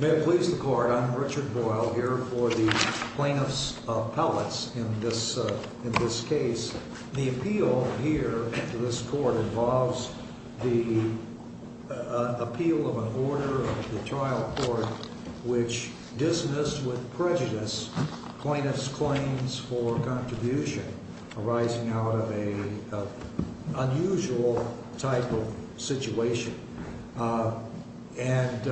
May it please the Court, I'm Richard Boyle here for the Plaintiffs' Appellates in this case. The appeal here to this Court involves the appeal of an order of the trial court which dismissed with prejudice plaintiffs' claims for contribution arising out of an unusual type of situation. And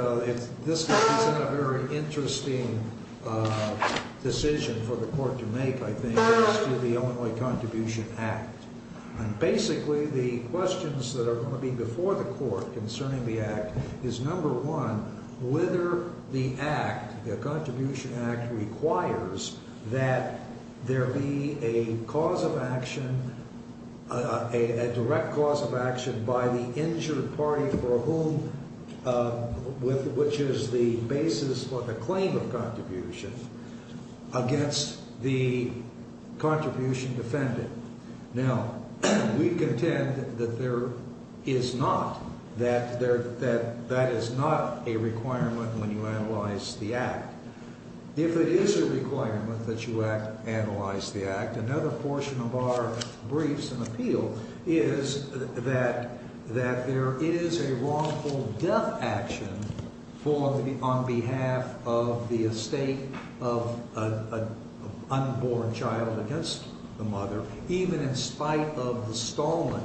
this is a very interesting decision for the Court to make, I think, as to the Illinois Contribution Act. And basically the questions that are going to be before the Court concerning the Act is, number one, whether the Act, the Contribution Act, requires that there be a cause of action, a direct cause of action by the injured party for whom, which is the basis for the claim of contribution, against the contribution defendant. Now, we contend that there is not, that that is not a requirement when you analyze the Act. If it is a requirement that you analyze the Act, another portion of our briefs and appeal is that there is a wrongful death action on behalf of the estate of an unborn child against the mother, even in spite of the stolen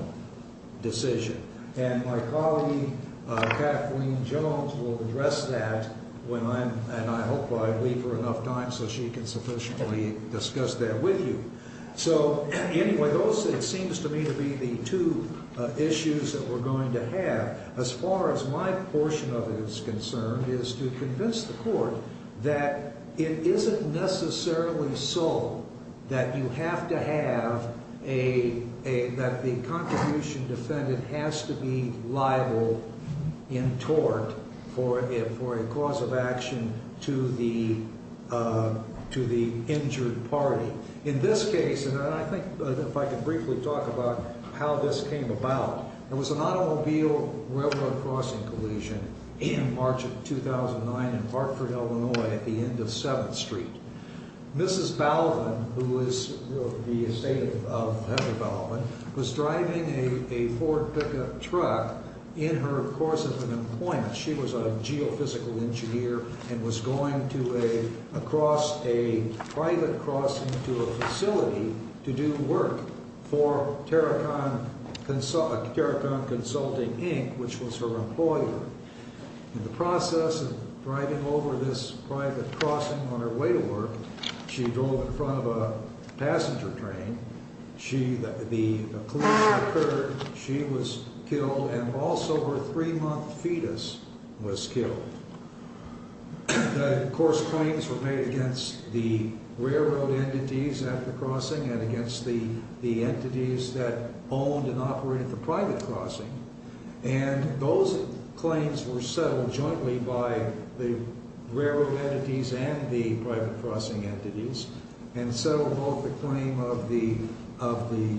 decision. And my colleague Kathleen Jones will address that when I'm, and I hope I leave her enough time so she can sufficiently discuss that with you. So anyway, those, it seems to me, to be the two issues that we're going to have as far as my portion of it is concerned is to convince the Court that it isn't necessarily so that you have to have a, that the contribution defendant has to be liable in tort for a cause of action to the injured party. In this case, and I think if I could briefly talk about how this came about, there was an automobile railroad crossing collision in March of 2009 in Hartford, Illinois, at the end of 7th Street. Mrs. Balvin, who is the estate of Heather Balvin, was driving a Ford pickup truck in her course of an appointment. She was a geophysical engineer and was going to a, across a private crossing to a facility to do work for Terracon Consulting, Inc., which was her employer. In the process of driving over this private crossing on her way to work, she drove in front of a passenger train. She, the collision occurred, she was killed, and also her three-month fetus was killed. The course claims were made against the railroad entities at the crossing and against the entities that owned and operated the private crossing, and those claims were settled jointly by the railroad entities and the private crossing entities, and settled both the claim of the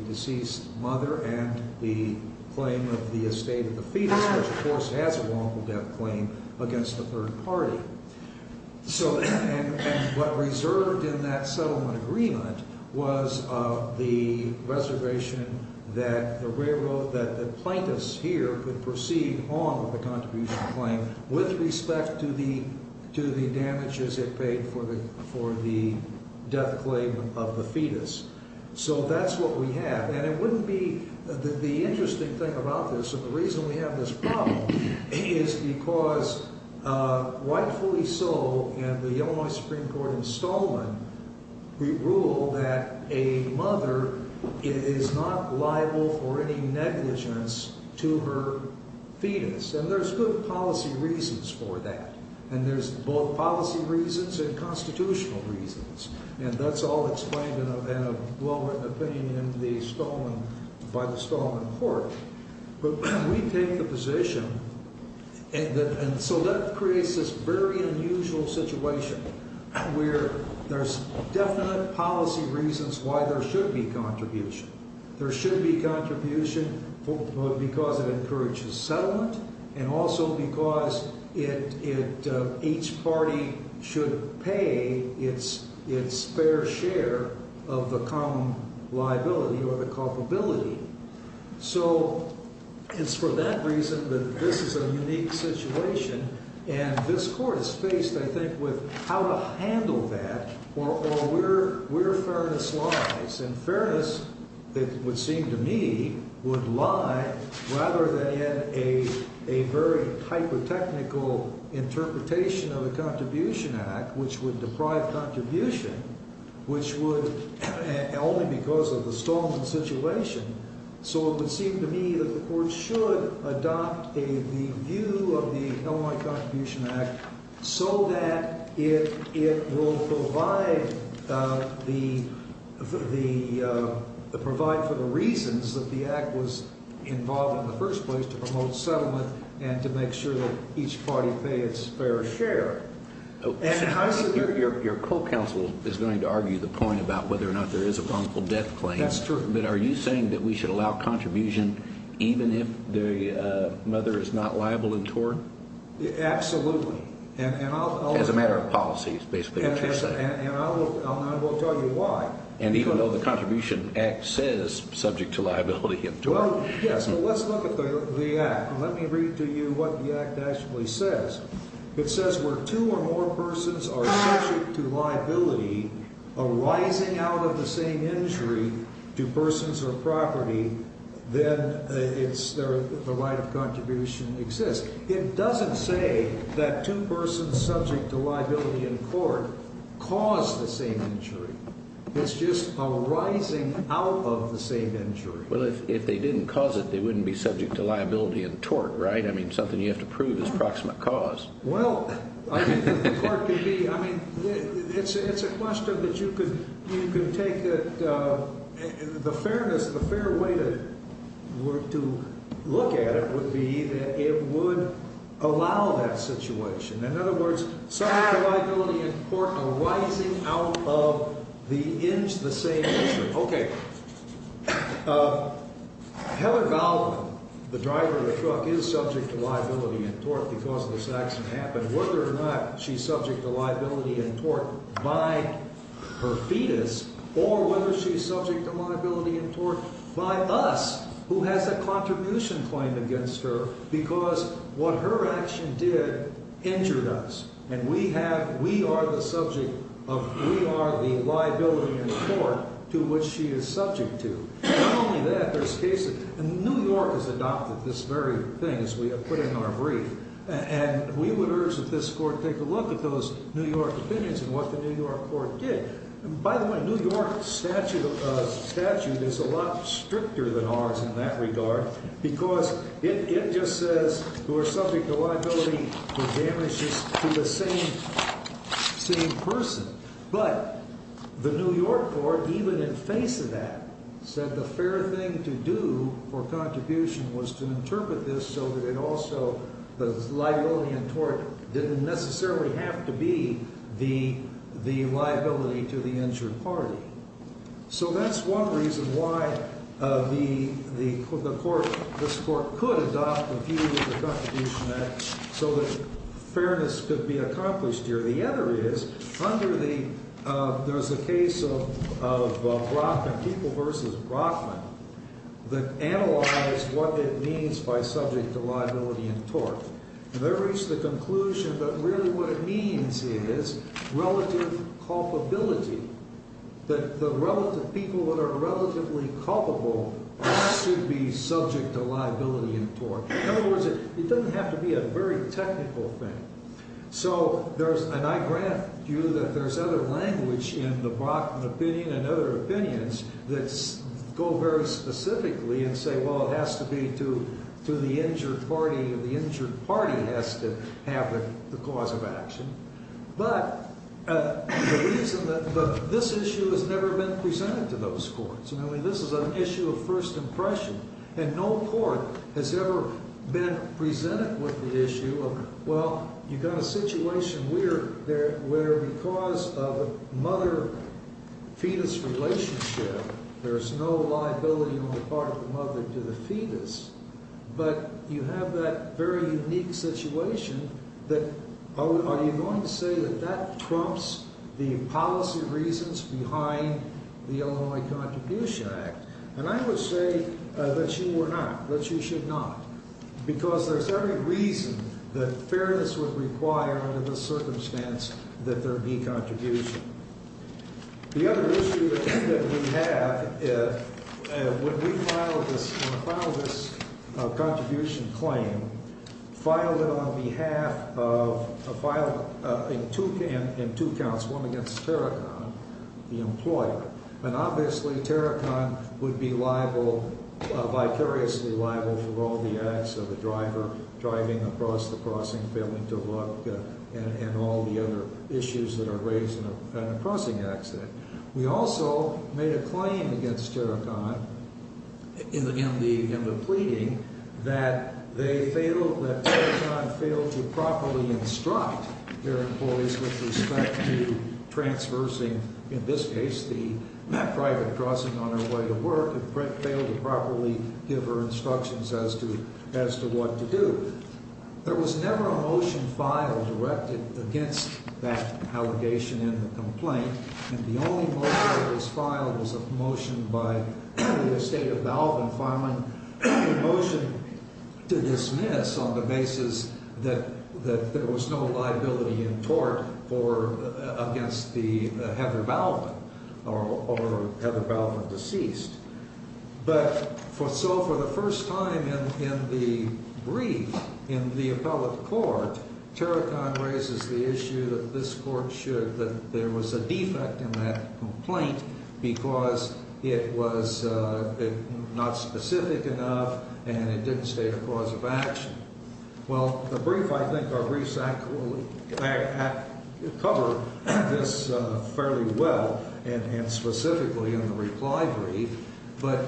deceased mother and the claim of the estate of the fetus, which of course has a wrongful death claim, against the third party. So, and what reserved in that settlement agreement was the reservation that the railroad, that the plaintiffs here could proceed on with the contribution claim with respect to the, to the damages it paid for the, for the death claim of the fetus. So that's what we have. And it wouldn't be, the interesting thing about this, and the reason we have this problem, is because rightfully so, in the Illinois Supreme Court installment, we rule that a mother is not liable for any negligence to her fetus, and there's good policy reasons for that. And there's both policy reasons and constitutional reasons, and that's all explained in a, in a well-written opinion in the Stalman, by the Stalman court. But we take the position that, and so that creates this very unusual situation where there's definite policy reasons why there should be contribution. There should be contribution because it encourages settlement, and also because it, it, each party should pay its, its fair share of the common liability or the culpability. So it's for that reason that this is a unique situation, and this court is faced, I think, with how to handle that, or, or where, where fairness lies. And fairness, it would seem to me, would lie, rather than in a, a very hyper-technical interpretation of the Contribution Act, which would deprive contribution, which would, only because of the Stalman situation. So it would seem to me that the court should adopt a, the view of the Illinois Contribution Act so that it, it will provide the, the, the, provide for the reasons that the act was involved in the first place, to promote settlement and to make sure that each party pay its fair share. And I see your, your, your co-counsel is going to argue the point about whether or not there is a wrongful death claim. That's true. But are you saying that we should allow contribution even if the mother is not liable in tort? Absolutely. And, and I'll, I'll. As a matter of policy, is basically what you're saying. And, and, and I'll, I'll, I will tell you why. Well, yes, but let's look at the, the act. Let me read to you what the act actually says. It says where two or more persons are subject to liability arising out of the same injury to persons or property, then it's, there, the right of contribution exists. It doesn't say that two persons subject to liability in court caused the same injury. It's just arising out of the same injury. Well, if, if they didn't cause it, they wouldn't be subject to liability in tort, right? I mean, something you have to prove is proximate cause. Well, I think that the court could be, I mean, it's, it's a question that you could, you could take that the fairness, the fair way to, to look at it would be that it would allow that situation. In other words, subject to liability in court arising out of the, the same injury. Okay. Heather Baldwin, the driver of the truck, is subject to liability in tort because this accident happened. Whether or not she's subject to liability in tort by her fetus, or whether she's subject to liability in tort by us, who has a contribution claim against her, because what her action did injured us. And we have, we are the subject of, we are the liability in tort to which she is subject to. Not only that, there's cases, and New York has adopted this very thing, as we have put in our brief, and we would urge that this court take a look at those New York opinions and what the New York court did. By the way, New York statute, statute is a lot stricter than ours in that regard, because it just says who are subject to liability for damages to the same, same person. But the New York court, even in face of that, said the fair thing to do for contribution was to interpret this so that it also, the liability in tort didn't necessarily have to be the, the liability to the injured party. So that's one reason why the, the court, this court could adopt the view of the Contribution Act so that fairness could be accomplished here. The other is, under the, there's a case of, of Brockman, people versus Brockman, that analyzed what it means by subject to liability in tort. And they reached the conclusion that really what it means is relative culpability, that the relative, people that are relatively culpable should be subject to liability in tort. In other words, it doesn't have to be a very technical thing. So there's, and I grant you that there's other language in the Brockman opinion and other opinions that go very specifically and say, well, it has to be to, to the injured party and the injured party has to have the, the cause of action. But the reason that this issue has never been presented to those courts, and I mean, this is an issue of first impression, and no court has ever been presented with the issue of, well, you've got a situation where, where because of a mother fetus relationship, there's no liability on the part of the mother to the fetus. But you have that very unique situation that, are you going to say that that trumps the policy reasons behind the Illinois Contribution Act? And I would say that you were not, that you should not, because there's every reason that fairness would require under this circumstance that there be contribution. The other issue that we have is when we filed this, when we filed this contribution claim, filed it on behalf of, filed in two, in two counts, one against Terracon, the employer. And obviously Terracon would be liable, vicariously liable for all the acts of the driver driving across the crossing, failing to look, and all the other issues that are raised in a crossing accident. We also made a claim against Terracon in the, in the, in the pleading that they failed, that Terracon failed to properly instruct their employees with respect to transversing, in this case, the private crossing on their way to work, and failed to properly give her instructions as to, as to what to do. There was never a motion filed directed against that allegation in the complaint, and the only motion that was filed was a motion by the estate of Balvin, filing a motion to dismiss on the basis that, that there was no liability in court for, against the, Heather Balvin, or Heather Balvin deceased. But for, so for the first time in, in the brief, in the appellate court, Terracon raises the issue that this court should, that there was a defect in that complaint because it was not specific enough and it didn't state a cause of action. Well, the brief, I think our briefs act, act, cover this fairly well and, and specifically in the reply brief, but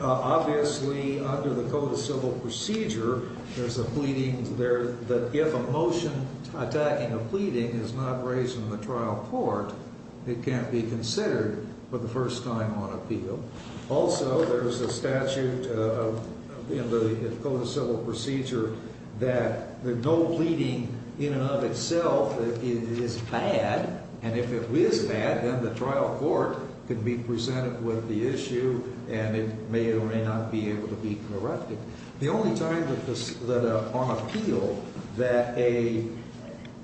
obviously under the Code of Civil Procedure, there's a pleading there that if a motion attacking a pleading is not raised in the trial court, it can't be considered for the first time on appeal. Also, there's a statute in the Code of Civil Procedure that no pleading in and of itself is bad, and if it is bad, then the trial court could be presented with the issue and it may or may not be able to be corrected. The only time that this, that on appeal that a,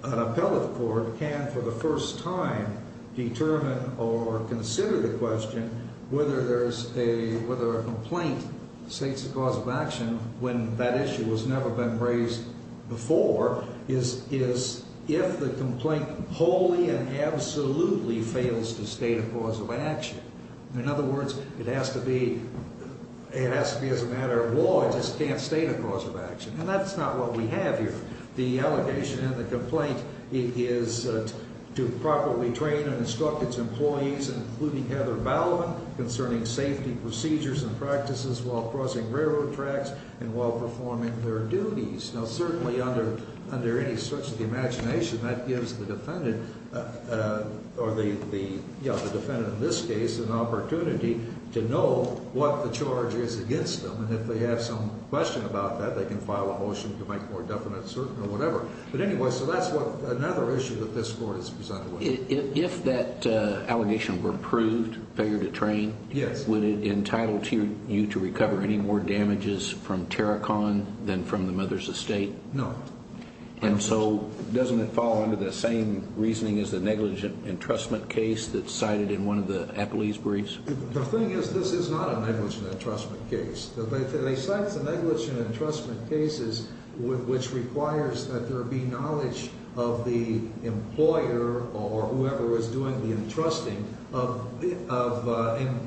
an appellate court can for the first time determine or consider the question whether there's a, whether a complaint states a cause of action when that issue has never been raised before is, is if the complaint wholly and absolutely fails to state a cause of action. In other words, it has to be, it has to be as a matter of law, it just can't state a cause of action, and that's not what we have here. The allegation in the complaint is to properly train and instruct its employees, including Heather Bauman, concerning safety procedures and practices while crossing railroad tracks and while performing their duties. Now certainly under, under any stretch of the imagination, that gives the defendant, or the, the, you know, the defendant in this case, an opportunity to know what the charge is against them, and if they have some question about that, they can file a motion to make more definite, certain, or whatever. But anyway, so that's what, another issue that this court is presented with. If that allegation were approved, failure to train. Yes. Would it entitle you to recover any more damages from Terracon than from the mother's estate? No. And so doesn't it fall under the same reasoning as the negligent entrustment case that's cited in one of the appellee's briefs? The thing is, this is not a negligent entrustment case. They cite the negligent entrustment cases which requires that there be knowledge of the employer or whoever is doing the entrusting of, of,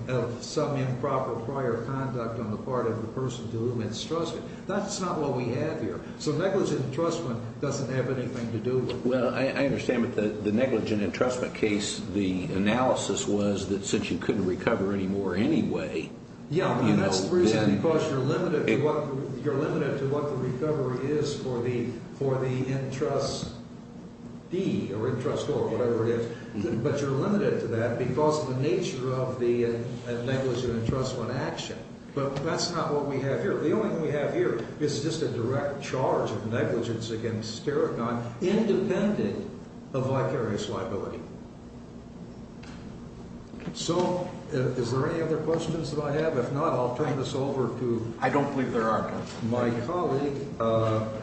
of some improper prior conduct on the part of the person to whom it's trusted. That's not what we have here. So negligent entrustment doesn't have anything to do with it. Well, I, I understand that the, the negligent entrustment case, the analysis was that since you couldn't recover any more anyway. Yeah, that's the reason because you're limited to what, you're limited to what the recovery is for the, for the entrustee or entrustor or whatever it is. But you're limited to that because of the nature of the negligent entrustment action. But that's not what we have here. The only thing we have here is just a direct charge of negligence against Sterikon independent of vicarious liability. So is there any other questions that I have? If not, I'll turn this over to. I don't believe there are. My colleague.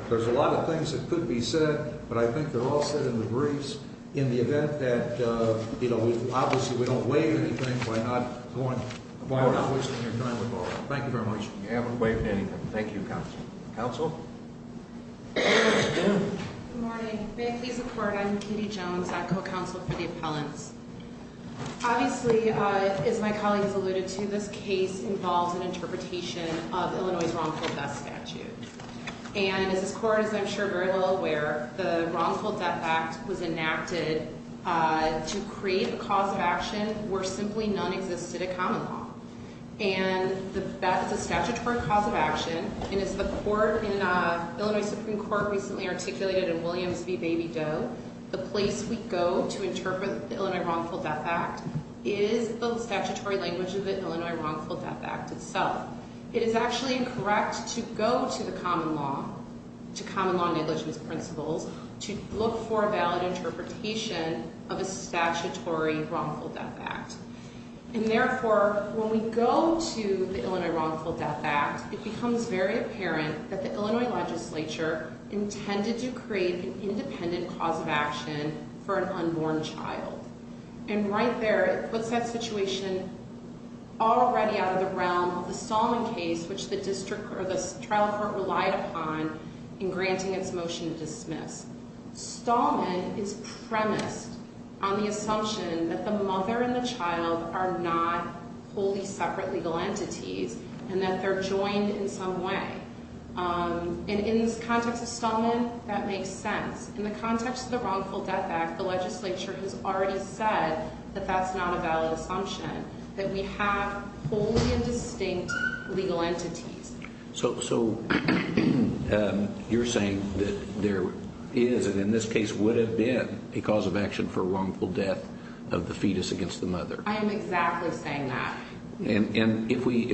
There's a lot of things that could be said, but I think they're all said in the briefs in the event that, you know, obviously we don't waive anything by not going. By not wasting your time at all. Thank you very much. You haven't waived anything. Thank you. Counsel. Good morning. May I please report? I'm Katie Jones. I'm co-counsel for the appellants. Obviously, as my colleagues alluded to, this case involves an interpretation of Illinois' wrongful death statute. And as this court is, I'm sure, very well aware, the wrongful death act was enacted to create a cause of action where simply none existed at common law. And that is a statutory cause of action. And as the court in Illinois Supreme Court recently articulated in Williams v. Baby Doe, the place we go to interpret the Illinois wrongful death act is the statutory language of the Illinois wrongful death act itself. It is actually incorrect to go to the common law, to common law negligence principles, to look for a valid interpretation of a statutory wrongful death act. And therefore, when we go to the Illinois wrongful death act, it becomes very apparent that the Illinois legislature intended to create an independent cause of action for an unborn child. And right there, it puts that situation already out of the realm of the Stallman case, which the district or the trial court relied upon in granting its motion to dismiss. Stallman is premised on the assumption that the mother and the child are not wholly separate legal entities and that they're joined in some way. And in this context of Stallman, that makes sense. In the context of the wrongful death act, the legislature has already said that that's not a valid assumption, that we have wholly and distinct legal entities. So you're saying that there is, and in this case would have been, a cause of action for wrongful death of the fetus against the mother? I am exactly saying that. And if we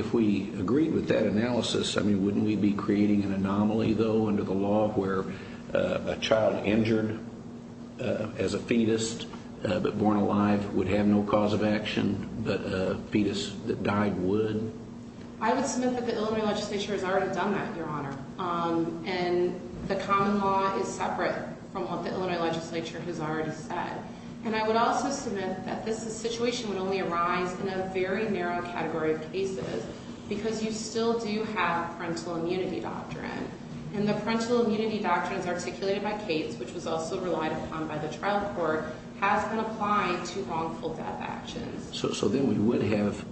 agree with that analysis, wouldn't we be creating an anomaly, though, under the law where a child injured as a fetus but born alive would have no cause of action, but a fetus that died would? I would submit that the Illinois legislature has already done that, Your Honor. And the common law is separate from what the Illinois legislature has already said. And I would also submit that this situation would only arise in a very narrow category of cases because you still do have parental immunity doctrine. And the parental immunity doctrine as articulated by Cates, which was also relied upon by the trial court, has been applied to wrongful death actions. So then we would have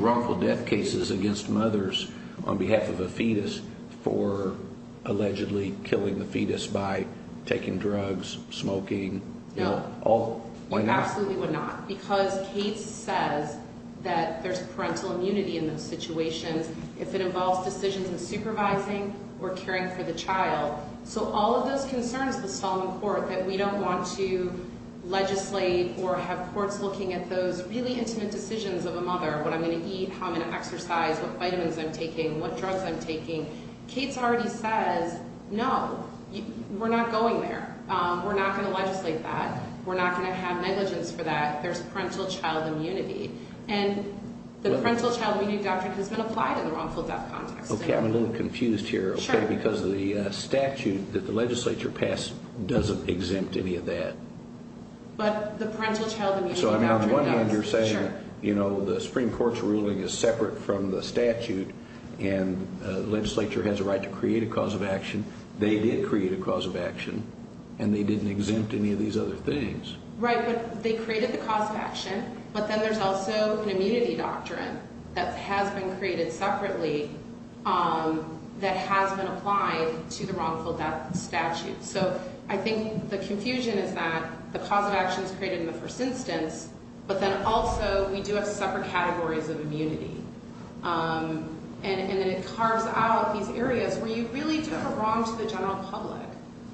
wrongful death cases against mothers on behalf of a fetus for allegedly killing the fetus by taking drugs, smoking. No. Why not? You absolutely would not because Cates says that there's parental immunity in those situations if it involves decisions in supervising or caring for the child. So all of those concerns with Solemn Court that we don't want to legislate or have courts looking at those really intimate decisions of a mother, what I'm going to eat, how I'm going to exercise, what vitamins I'm taking, what drugs I'm taking, Cates already says, no, we're not going there. We're not going to legislate that. We're not going to have negligence for that. There's parental child immunity. And the parental child immunity doctrine has been applied in the wrongful death context. Okay, I'm a little confused here. Sure. Because the statute that the legislature passed doesn't exempt any of that. But the parental child immunity doctrine does. So on one hand, you're saying the Supreme Court's ruling is separate from the statute and the legislature has a right to create a cause of action. They did create a cause of action, and they didn't exempt any of these other things. Right, but they created the cause of action, but then there's also an immunity doctrine that has been created separately that has been applied to the wrongful death statute. So I think the confusion is that the cause of action is created in the first instance, but then also we do have separate categories of immunity. And then it carves out these areas where you really do a wrong to the general public.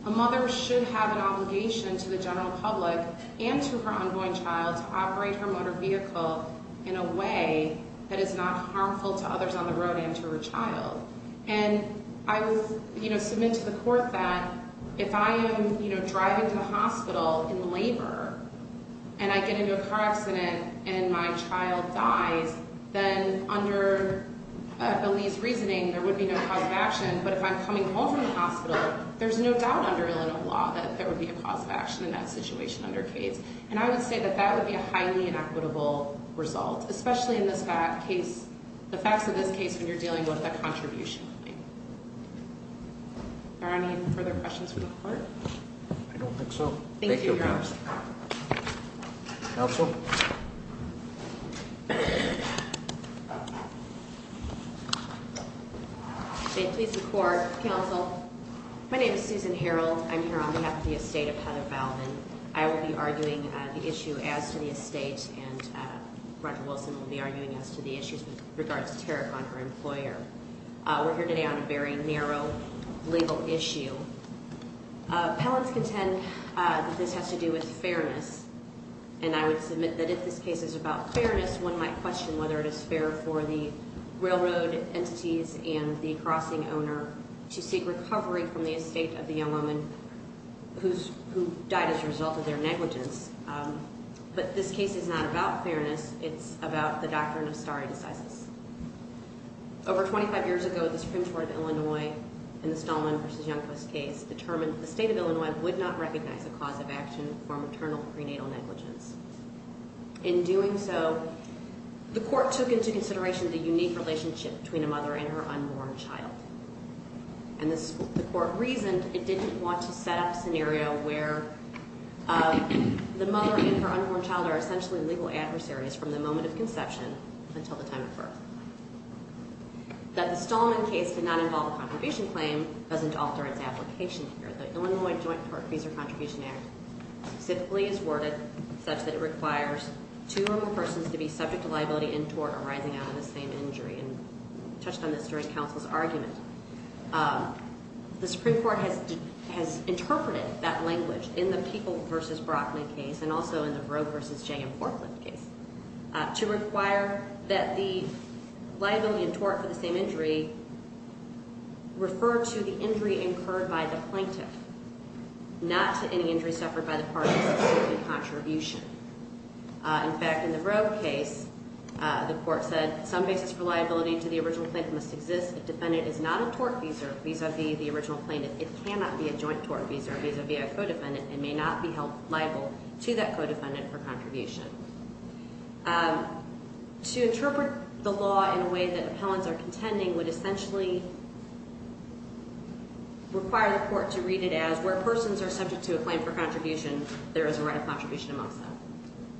A mother should have an obligation to the general public and to her unborn child to operate her motor vehicle in a way that is not harmful to others on the road and to her child. And I will submit to the court that if I am driving to the hospital in labor and I get into a car accident and my child dies, then under Belie's reasoning, there would be no cause of action. But if I'm coming home from the hospital, there's no doubt under Illinois law that there would be a cause of action in that situation under case. And I would say that that would be a highly inequitable result, especially in the facts of this case when you're dealing with a contribution claim. Are there any further questions from the court? I don't think so. Thank you, Your Honor. Thank you. Counsel? Please be seated. Thank you, Your Honor. Please report, counsel. My name is Susan Harreld. I'm here on behalf of the estate of Heather Balvin. I will be arguing the issue as to the estate and Roger Wilson will be arguing as to the issues with regards to tariff on her employer. We're here today on a very narrow legal issue. Appellants contend that this has to do with fairness. And I would submit that if this case is about fairness, one might question whether it is fair for the railroad entities and the crossing owner to seek recovery from the estate of the young woman who died as a result of their negligence. But this case is not about fairness. It's about the doctrine of stare decisis. Over 25 years ago, the Supreme Court of Illinois in the Stallman v. Youngquist case determined the state of Illinois would not recognize a cause of action for maternal prenatal negligence. In doing so, the court took into consideration the unique relationship between a mother and her unborn child. And the court reasoned it didn't want to set up a scenario where the mother and her unborn child are essentially legal adversaries from the moment of conception until the time of birth. That the Stallman case did not involve a contribution claim doesn't alter its application here. The Illinois Joint Tort Fees or Contribution Act specifically is worded such that it requires two or more persons to be subject to liability in tort arising out of the same injury. And I touched on this during counsel's argument. The Supreme Court has interpreted that language in the Peoples v. Brockman case and also in the Roe v. Jay and Forklift case. To require that the liability in tort for the same injury refer to the injury incurred by the plaintiff. Not to any injury suffered by the parties in the contribution. In fact, in the Roe case, the court said some basis for liability to the original plaintiff must exist if defendant is not a tort feeser vis-a-vis the original plaintiff. It cannot be a joint tort feeser vis-a-vis a co-defendant and may not be held liable to that co-defendant for contribution. To interpret the law in a way that appellants are contending would essentially require the court to read it as where persons are subject to a claim for contribution. There is a right of contribution amongst them.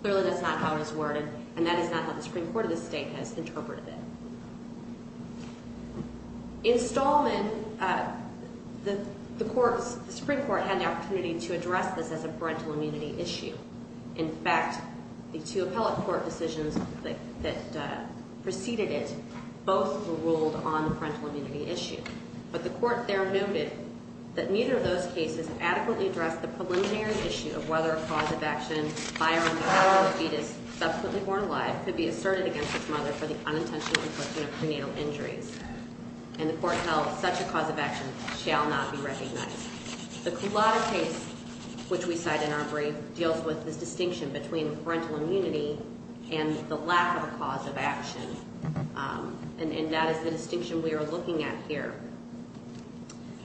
Clearly, that's not how it is worded. And that is not how the Supreme Court of the state has interpreted it. In Stallman, the Supreme Court had the opportunity to address this as a parental immunity issue. In fact, the two appellate court decisions that preceded it both ruled on the parental immunity issue. But the court there noted that neither of those cases adequately addressed the preliminary issue of whether a cause of action, by or on the power of the fetus subsequently born alive, could be asserted against its mother for the unintentional infliction of prenatal injuries. And the court held such a cause of action shall not be recognized. The Culotta case, which we cite in our brief, deals with this distinction between parental immunity and the lack of a cause of action. And that is the distinction we are looking at here.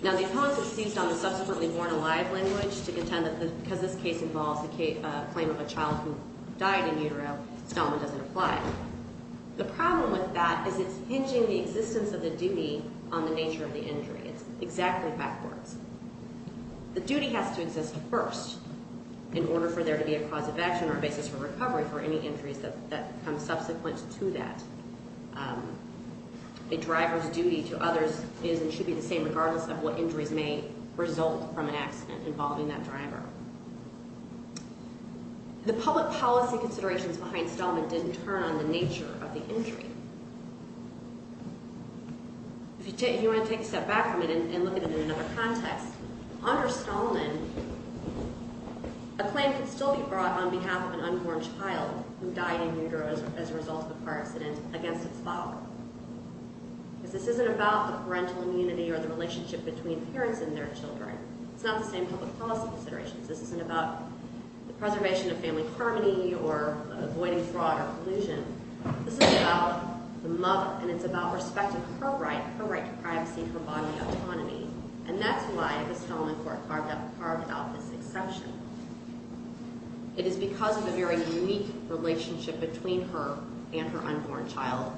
Now, the appellants have seized on the subsequently born alive language to contend that because this case involves a claim of a child who died in utero, Stallman doesn't apply. The problem with that is it's hinging the existence of the duty on the nature of the injury. It's exactly backwards. The duty has to exist first in order for there to be a cause of action or a basis for recovery for any injuries that come subsequent to that. A driver's duty to others is and should be the same regardless of what injuries may result from an accident involving that driver. The public policy considerations behind Stallman didn't turn on the nature of the injury. If you want to take a step back from it and look at it in another context, under Stallman, a claim could still be brought on behalf of an unborn child who died in utero as a result of a car accident against its father. Because this isn't about the parental immunity or the relationship between parents and their children. It's not the same public policy considerations. This isn't about the preservation of family harmony or avoiding fraud or collusion. This is about the mother and it's about respecting her right, her right to privacy, her bodily autonomy. And that's why the Stallman court carved out this exception. It is because of the very unique relationship between her and her unborn child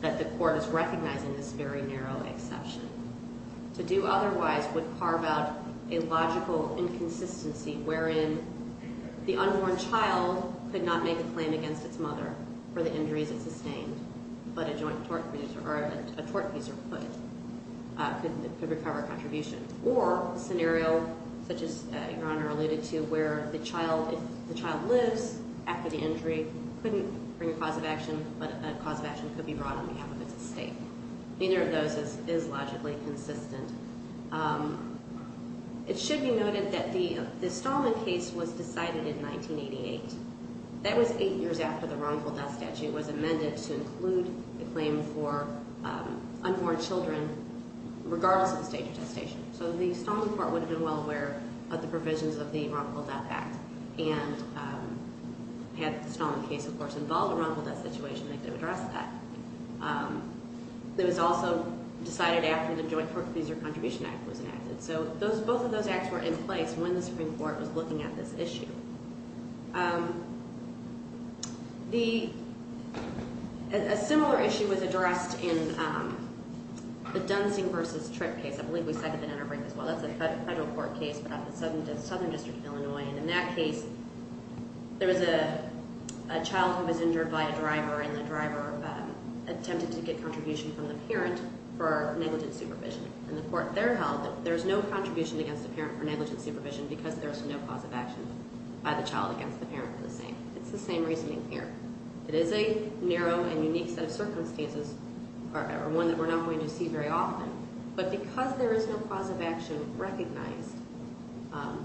that the court is recognizing this very narrow exception. To do otherwise would carve out a logical inconsistency wherein the unborn child could not make a claim against its mother for the injuries it sustained. But a joint tort user, or a tort user could, could recover a contribution. Or a scenario such as Your Honor alluded to where the child, if the child lives after the injury, couldn't bring a cause of action, but a cause of action could be brought on behalf of its estate. Neither of those is logically consistent. It should be noted that the Stallman case was decided in 1988. That was eight years after the wrongful death statute was amended to include the claim for unborn children regardless of the stage of gestation. So the Stallman court would have been well aware of the provisions of the wrongful death act. And had the Stallman case, of course, involved a wrongful death situation, they could have addressed that. It was also decided after the joint tort user contribution act was enacted. So those, both of those acts were in place when the Supreme Court was looking at this issue. The, a similar issue was addressed in the Dunsing versus Tripp case. I believe we cited that in our break as well. That's a federal court case, but at the Southern District of Illinois. And in that case, there was a child who was injured by a driver, and the driver attempted to get contribution from the parent for negligent supervision. And the court there held that there's no contribution against the parent for negligent supervision because there's no cause of action by the child against the parent for the same. It's the same reasoning here. It is a narrow and unique set of circumstances, or one that we're not going to see very often. But because there is no cause of action recognized,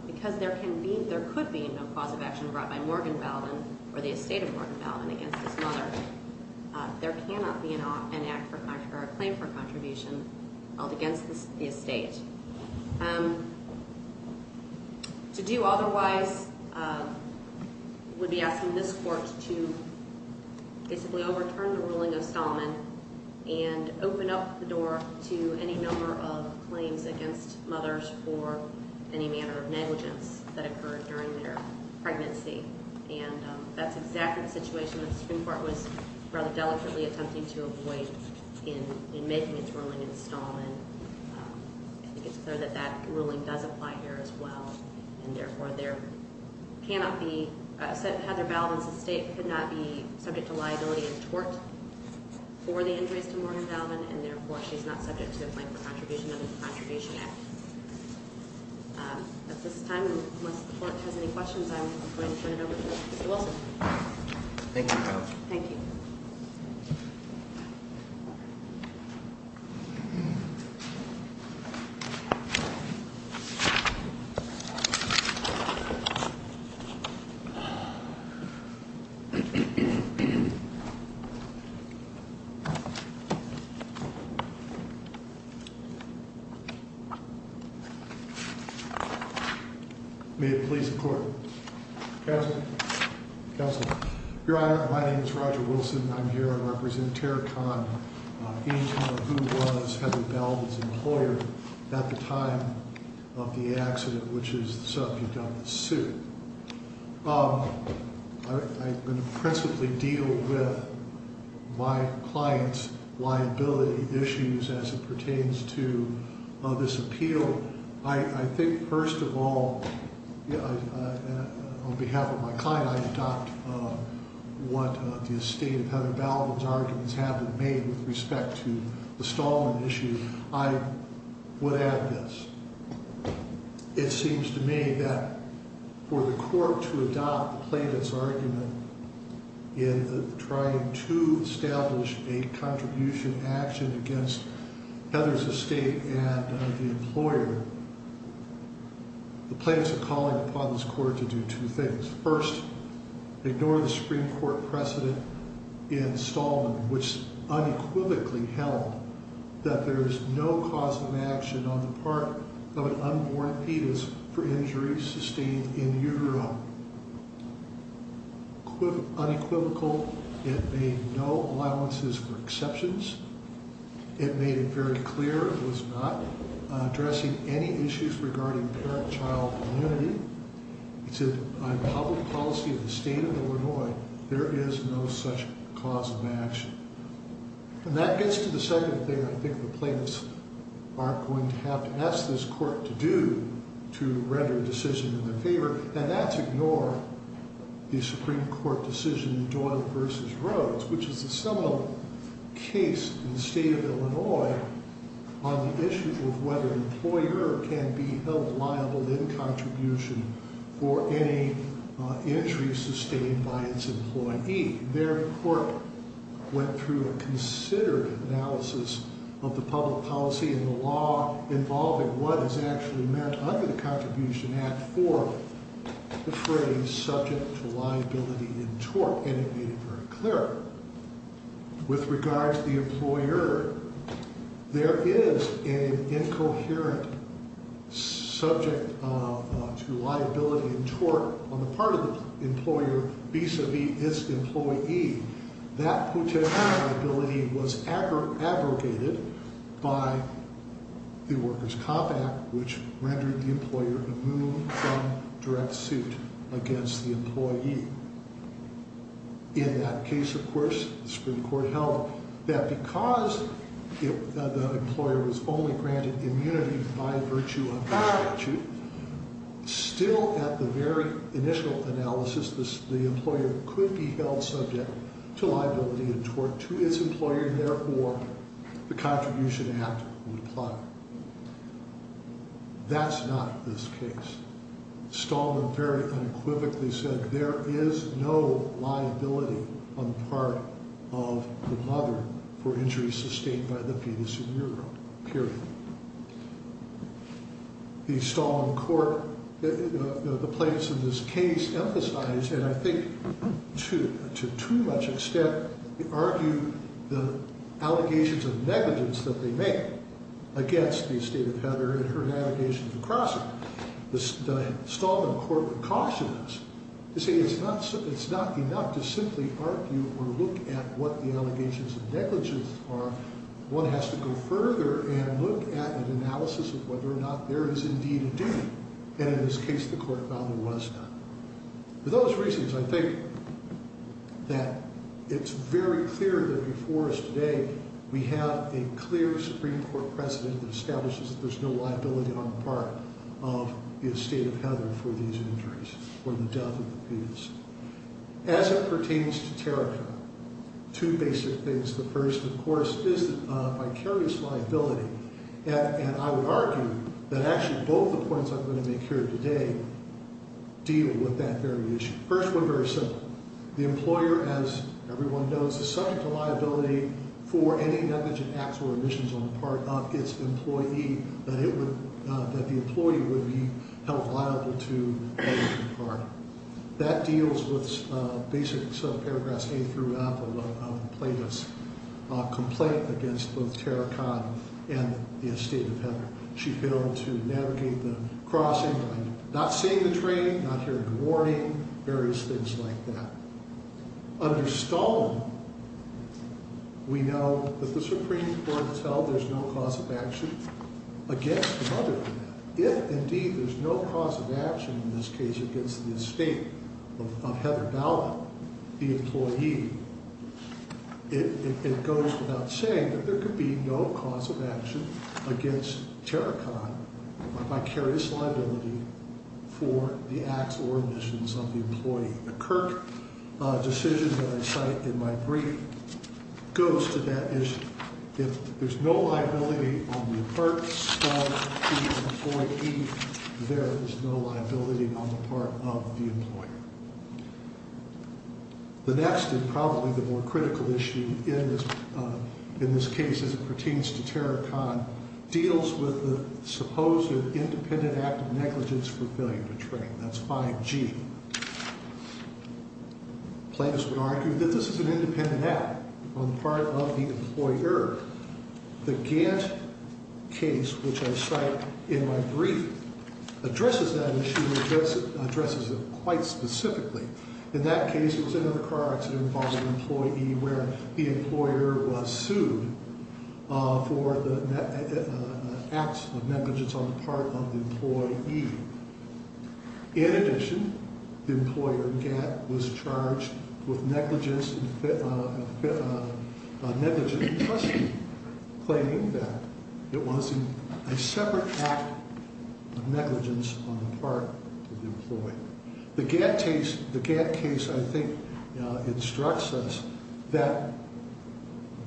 because there can be, there could be no cause of action brought by Morgan Balvin or the estate of Morgan Balvin against his mother, there cannot be an act for, or a claim for contribution held against the estate. To do otherwise would be asking this court to basically overturn the ruling of Stallman and open up the door to any number of claims against mothers for any manner of negligence that occurred during their pregnancy. And that's exactly the situation that the Supreme Court was rather delicately attempting to avoid in making its ruling in Stallman. I think it's clear that that ruling does apply here as well. And therefore, there cannot be, Heather Balvin's estate could not be subject to liability in tort for the injuries to Morgan Balvin. And therefore, she's not subject to a claim for contribution under the Contribution Act. At this time, unless the court has any questions, I'm going to turn it over to Mr. Wilson. Thank you. Thank you. May it please the court. Counselor. Counselor. Your Honor, my name is Roger Wilson. I'm here. I represent Tarracon, who was Heather Balvin's employer at the time of the accident, which is the subject of this suit. I'm going to principally deal with my client's liability issues as it pertains to this appeal. I think, first of all, on behalf of my client, I adopt what the estate of Heather Balvin's arguments have been made with respect to the Stallman issue. I would add this. It seems to me that for the court to adopt the plaintiff's argument in trying to establish a contribution action against Heather's estate and the employer, the plaintiff's calling upon this court to do two things. First, ignore the Supreme Court precedent in Stallman, which unequivocally held that there is no cause of action on the part of an unborn fetus for injuries sustained in utero. Unequivocal, it made no allowances for exceptions. It made it very clear it was not addressing any issues regarding parent-child immunity. It said, on public policy of the state of Illinois, there is no such cause of action. And that gets to the second thing I think the plaintiffs aren't going to have to ask this court to do to render a decision in their favor, and that's ignore the Supreme Court decision in Doyle v. Rhodes, which is a seminal case in the state of Illinois on the issue of whether an employer can be held liable in contribution for any injuries sustained by its employee. Their court went through a considerate analysis of the public policy and the law involving what is actually meant under the Contribution Act for the phrase subject to liability in tort, and it made it very clear. With regard to the employer, there is an incoherent subject to liability in tort on the part of the employer vis-a-vis its employee. That putative liability was abrogated by the Workers' Comp Act, which rendered the employer immune from direct suit against the employee. In that case, of course, the Supreme Court held that because the employer was only granted immunity by virtue of the statute, still at the very initial analysis, the employer could be held subject to liability in tort to its employer. Therefore, the Contribution Act would apply. That's not this case. Stallman very unequivocally said there is no liability on the part of the mother for injuries sustained by the pedicure period. The Stallman court, the plaintiffs in this case, emphasized, and I think to too much extent argued, the allegations of negligence that they make against the estate of Heather and her navigations across it. Stallman court would caution us to say it's not enough to simply argue or look at what the allegations of negligence are. One has to go further and look at an analysis of whether or not there is indeed a duty, and in this case, the court found there was not. For those reasons, I think that it's very clear that before us today, we have a clear Supreme Court precedent that establishes that there's no liability on the part of the estate of Heather for these injuries or the death of the pedis. As it pertains to Terica, two basic things. The first, of course, is a vicarious liability, and I would argue that actually both the points I'm going to make here today deal with that very issue. First one, very simple. The employer, as everyone knows, is subject to liability for any negligent acts or omissions on the part of its employee that the employee would be held liable to. That deals with basic paragraphs A through F of the plaintiff's complaint against both Terica and the estate of Heather. She failed to navigate the crossing line, not seeing the train, not hearing the warning, various things like that. Under Stallman, we know that the Supreme Court has held there's no cause of action against the mother. If, indeed, there's no cause of action in this case against the estate of Heather Dowland, the employee, it goes without saying that there could be no cause of action against Terica, a vicarious liability for the acts or omissions of the employee. The Kirk decision that I cite in my brief goes to that issue. If there's no liability on the part of the employee, there is no liability on the part of the employer. The next and probably the more critical issue in this case as it pertains to Terica deals with the supposed independent act of negligence for failing to train. That's 5G. Plaintiffs would argue that this is an independent act on the part of the employer. The Gantt case, which I cite in my brief, addresses that issue, addresses it quite specifically. In that case, it was another car accident involving an employee where the employer was sued for the acts of negligence on the part of the employee. In addition, the employer, Gantt, was charged with negligence in custody, claiming that it was a separate act of negligence on the part of the employee. The Gantt case, I think, instructs us that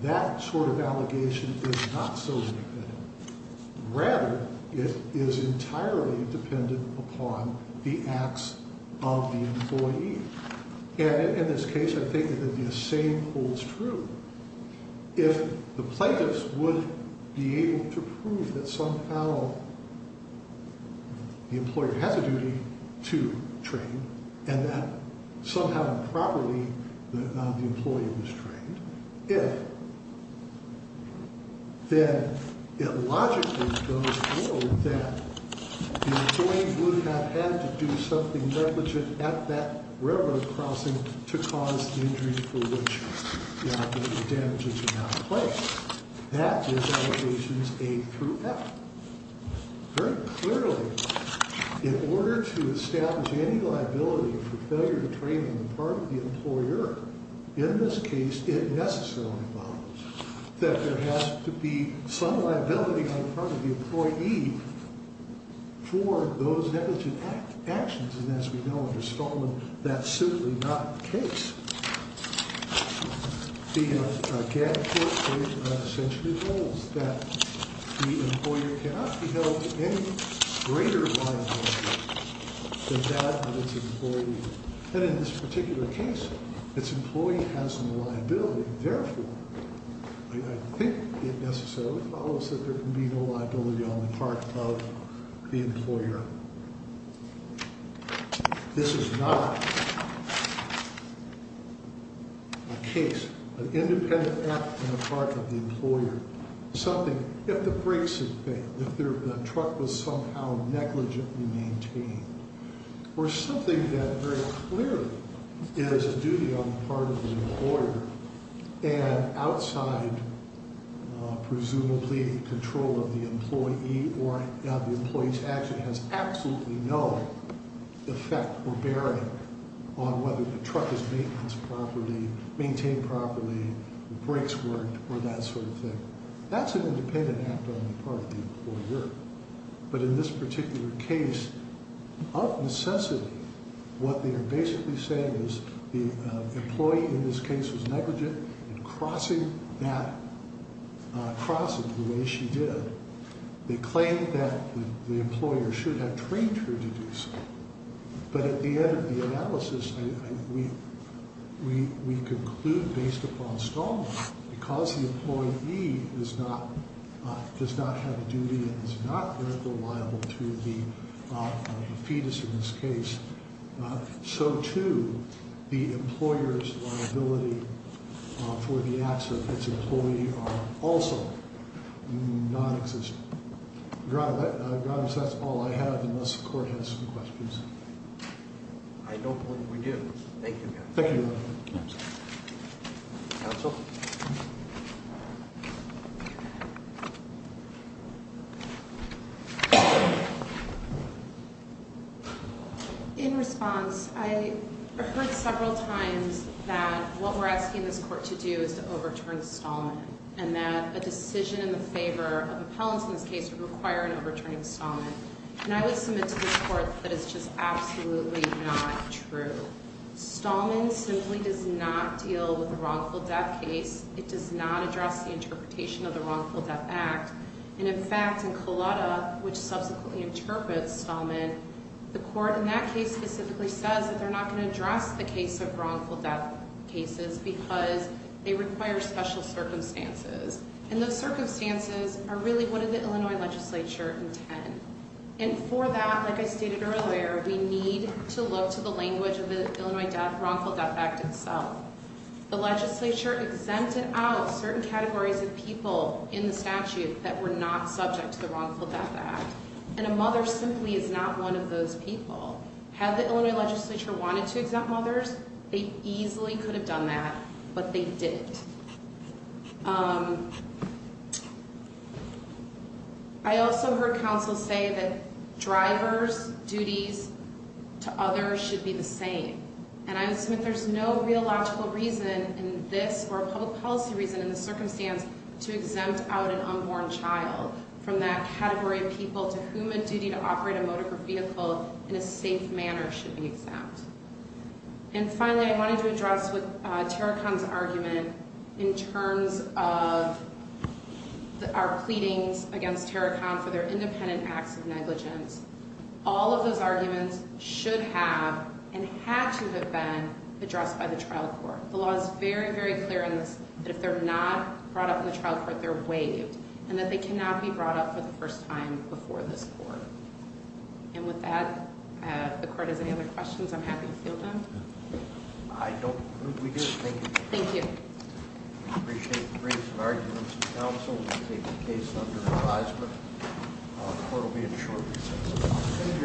that sort of allegation is not so independent. Rather, it is entirely dependent upon the acts of the employee. And in this case, I think that the same holds true. If the plaintiffs would be able to prove that somehow the employer has a duty to train and that somehow improperly the employee was trained, then it logically goes to show that the employee would have had to do something negligent at that railroad crossing to cause the injury for which the damages are now in place. That is allegations A through F. Very clearly, in order to establish any liability for failure to train on the part of the employer, in this case, it necessarily follows that there has to be some liability on the part of the employee for those negligent actions. And as we know, under Stallman, that's simply not the case. The Gantt case essentially holds that the employer cannot be held to any greater liability than that of its employee. And in this particular case, its employee has no liability. Therefore, I think it necessarily follows that there can be no liability on the part of the employer. This is not a case, an independent act on the part of the employer. Something, if the brakes had failed, if the truck was somehow negligently maintained, or something that very clearly is a duty on the part of the employer and outside presumably control of the employee or the employee's action has absolutely no effect or bearing on whether the truck is maintained properly, whether the brakes worked, or that sort of thing. That's an independent act on the part of the employer. But in this particular case, of necessity, what they are basically saying is the employee in this case was negligent in crossing that crossing the way she did. They claim that the employer should have trained her to do so. But at the end of the analysis, we conclude, based upon Stallman, because the employee does not have a duty and is not very reliable to the fetus in this case. So too, the employer's liability for the acts of its employee are also non-existent. Your Honor, that's all I have, unless the court has some questions. I don't believe we do. Thank you, Your Honor. Thank you, Your Honor. Counsel? In response, I heard several times that what we're asking this court to do is to overturn Stallman, and that a decision in the favor of appellants in this case would require an overturning of Stallman. And I would submit to the court that it's just absolutely not true. Stallman simply does not deal with a wrongful death case. It does not address the interpretation of the Wrongful Death Act. And in fact, in Collada, which subsequently interprets Stallman, the court in that case specifically says that they're not going to address the case of wrongful death cases because they require special circumstances. And those circumstances are really what the Illinois legislature intend. And for that, like I stated earlier, we need to look to the language of the Illinois Wrongful Death Act itself. The legislature exempted out certain categories of people in the statute that were not subject to the Wrongful Death Act. And a mother simply is not one of those people. Had the Illinois legislature wanted to exempt mothers, they easily could have done that. But they didn't. I also heard counsel say that drivers' duties to others should be the same. And I would submit there's no real logical reason in this, or a public policy reason in this circumstance, to exempt out an unborn child from that category of people to whom a duty to operate a motor vehicle in a safe manner should be exempt. And finally, I wanted to address with Tarakon's argument in terms of our pleadings against Tarakon for their independent acts of negligence. All of those arguments should have and had to have been addressed by the trial court. The law is very, very clear on this, that if they're not brought up in the trial court, they're waived, and that they cannot be brought up for the first time before this court. And with that, if the court has any other questions, I'm happy to field them. I don't think we do. Thank you. Thank you. We appreciate the briefs and arguments from counsel. We'll take the case under advisement. The court will be in a short recess.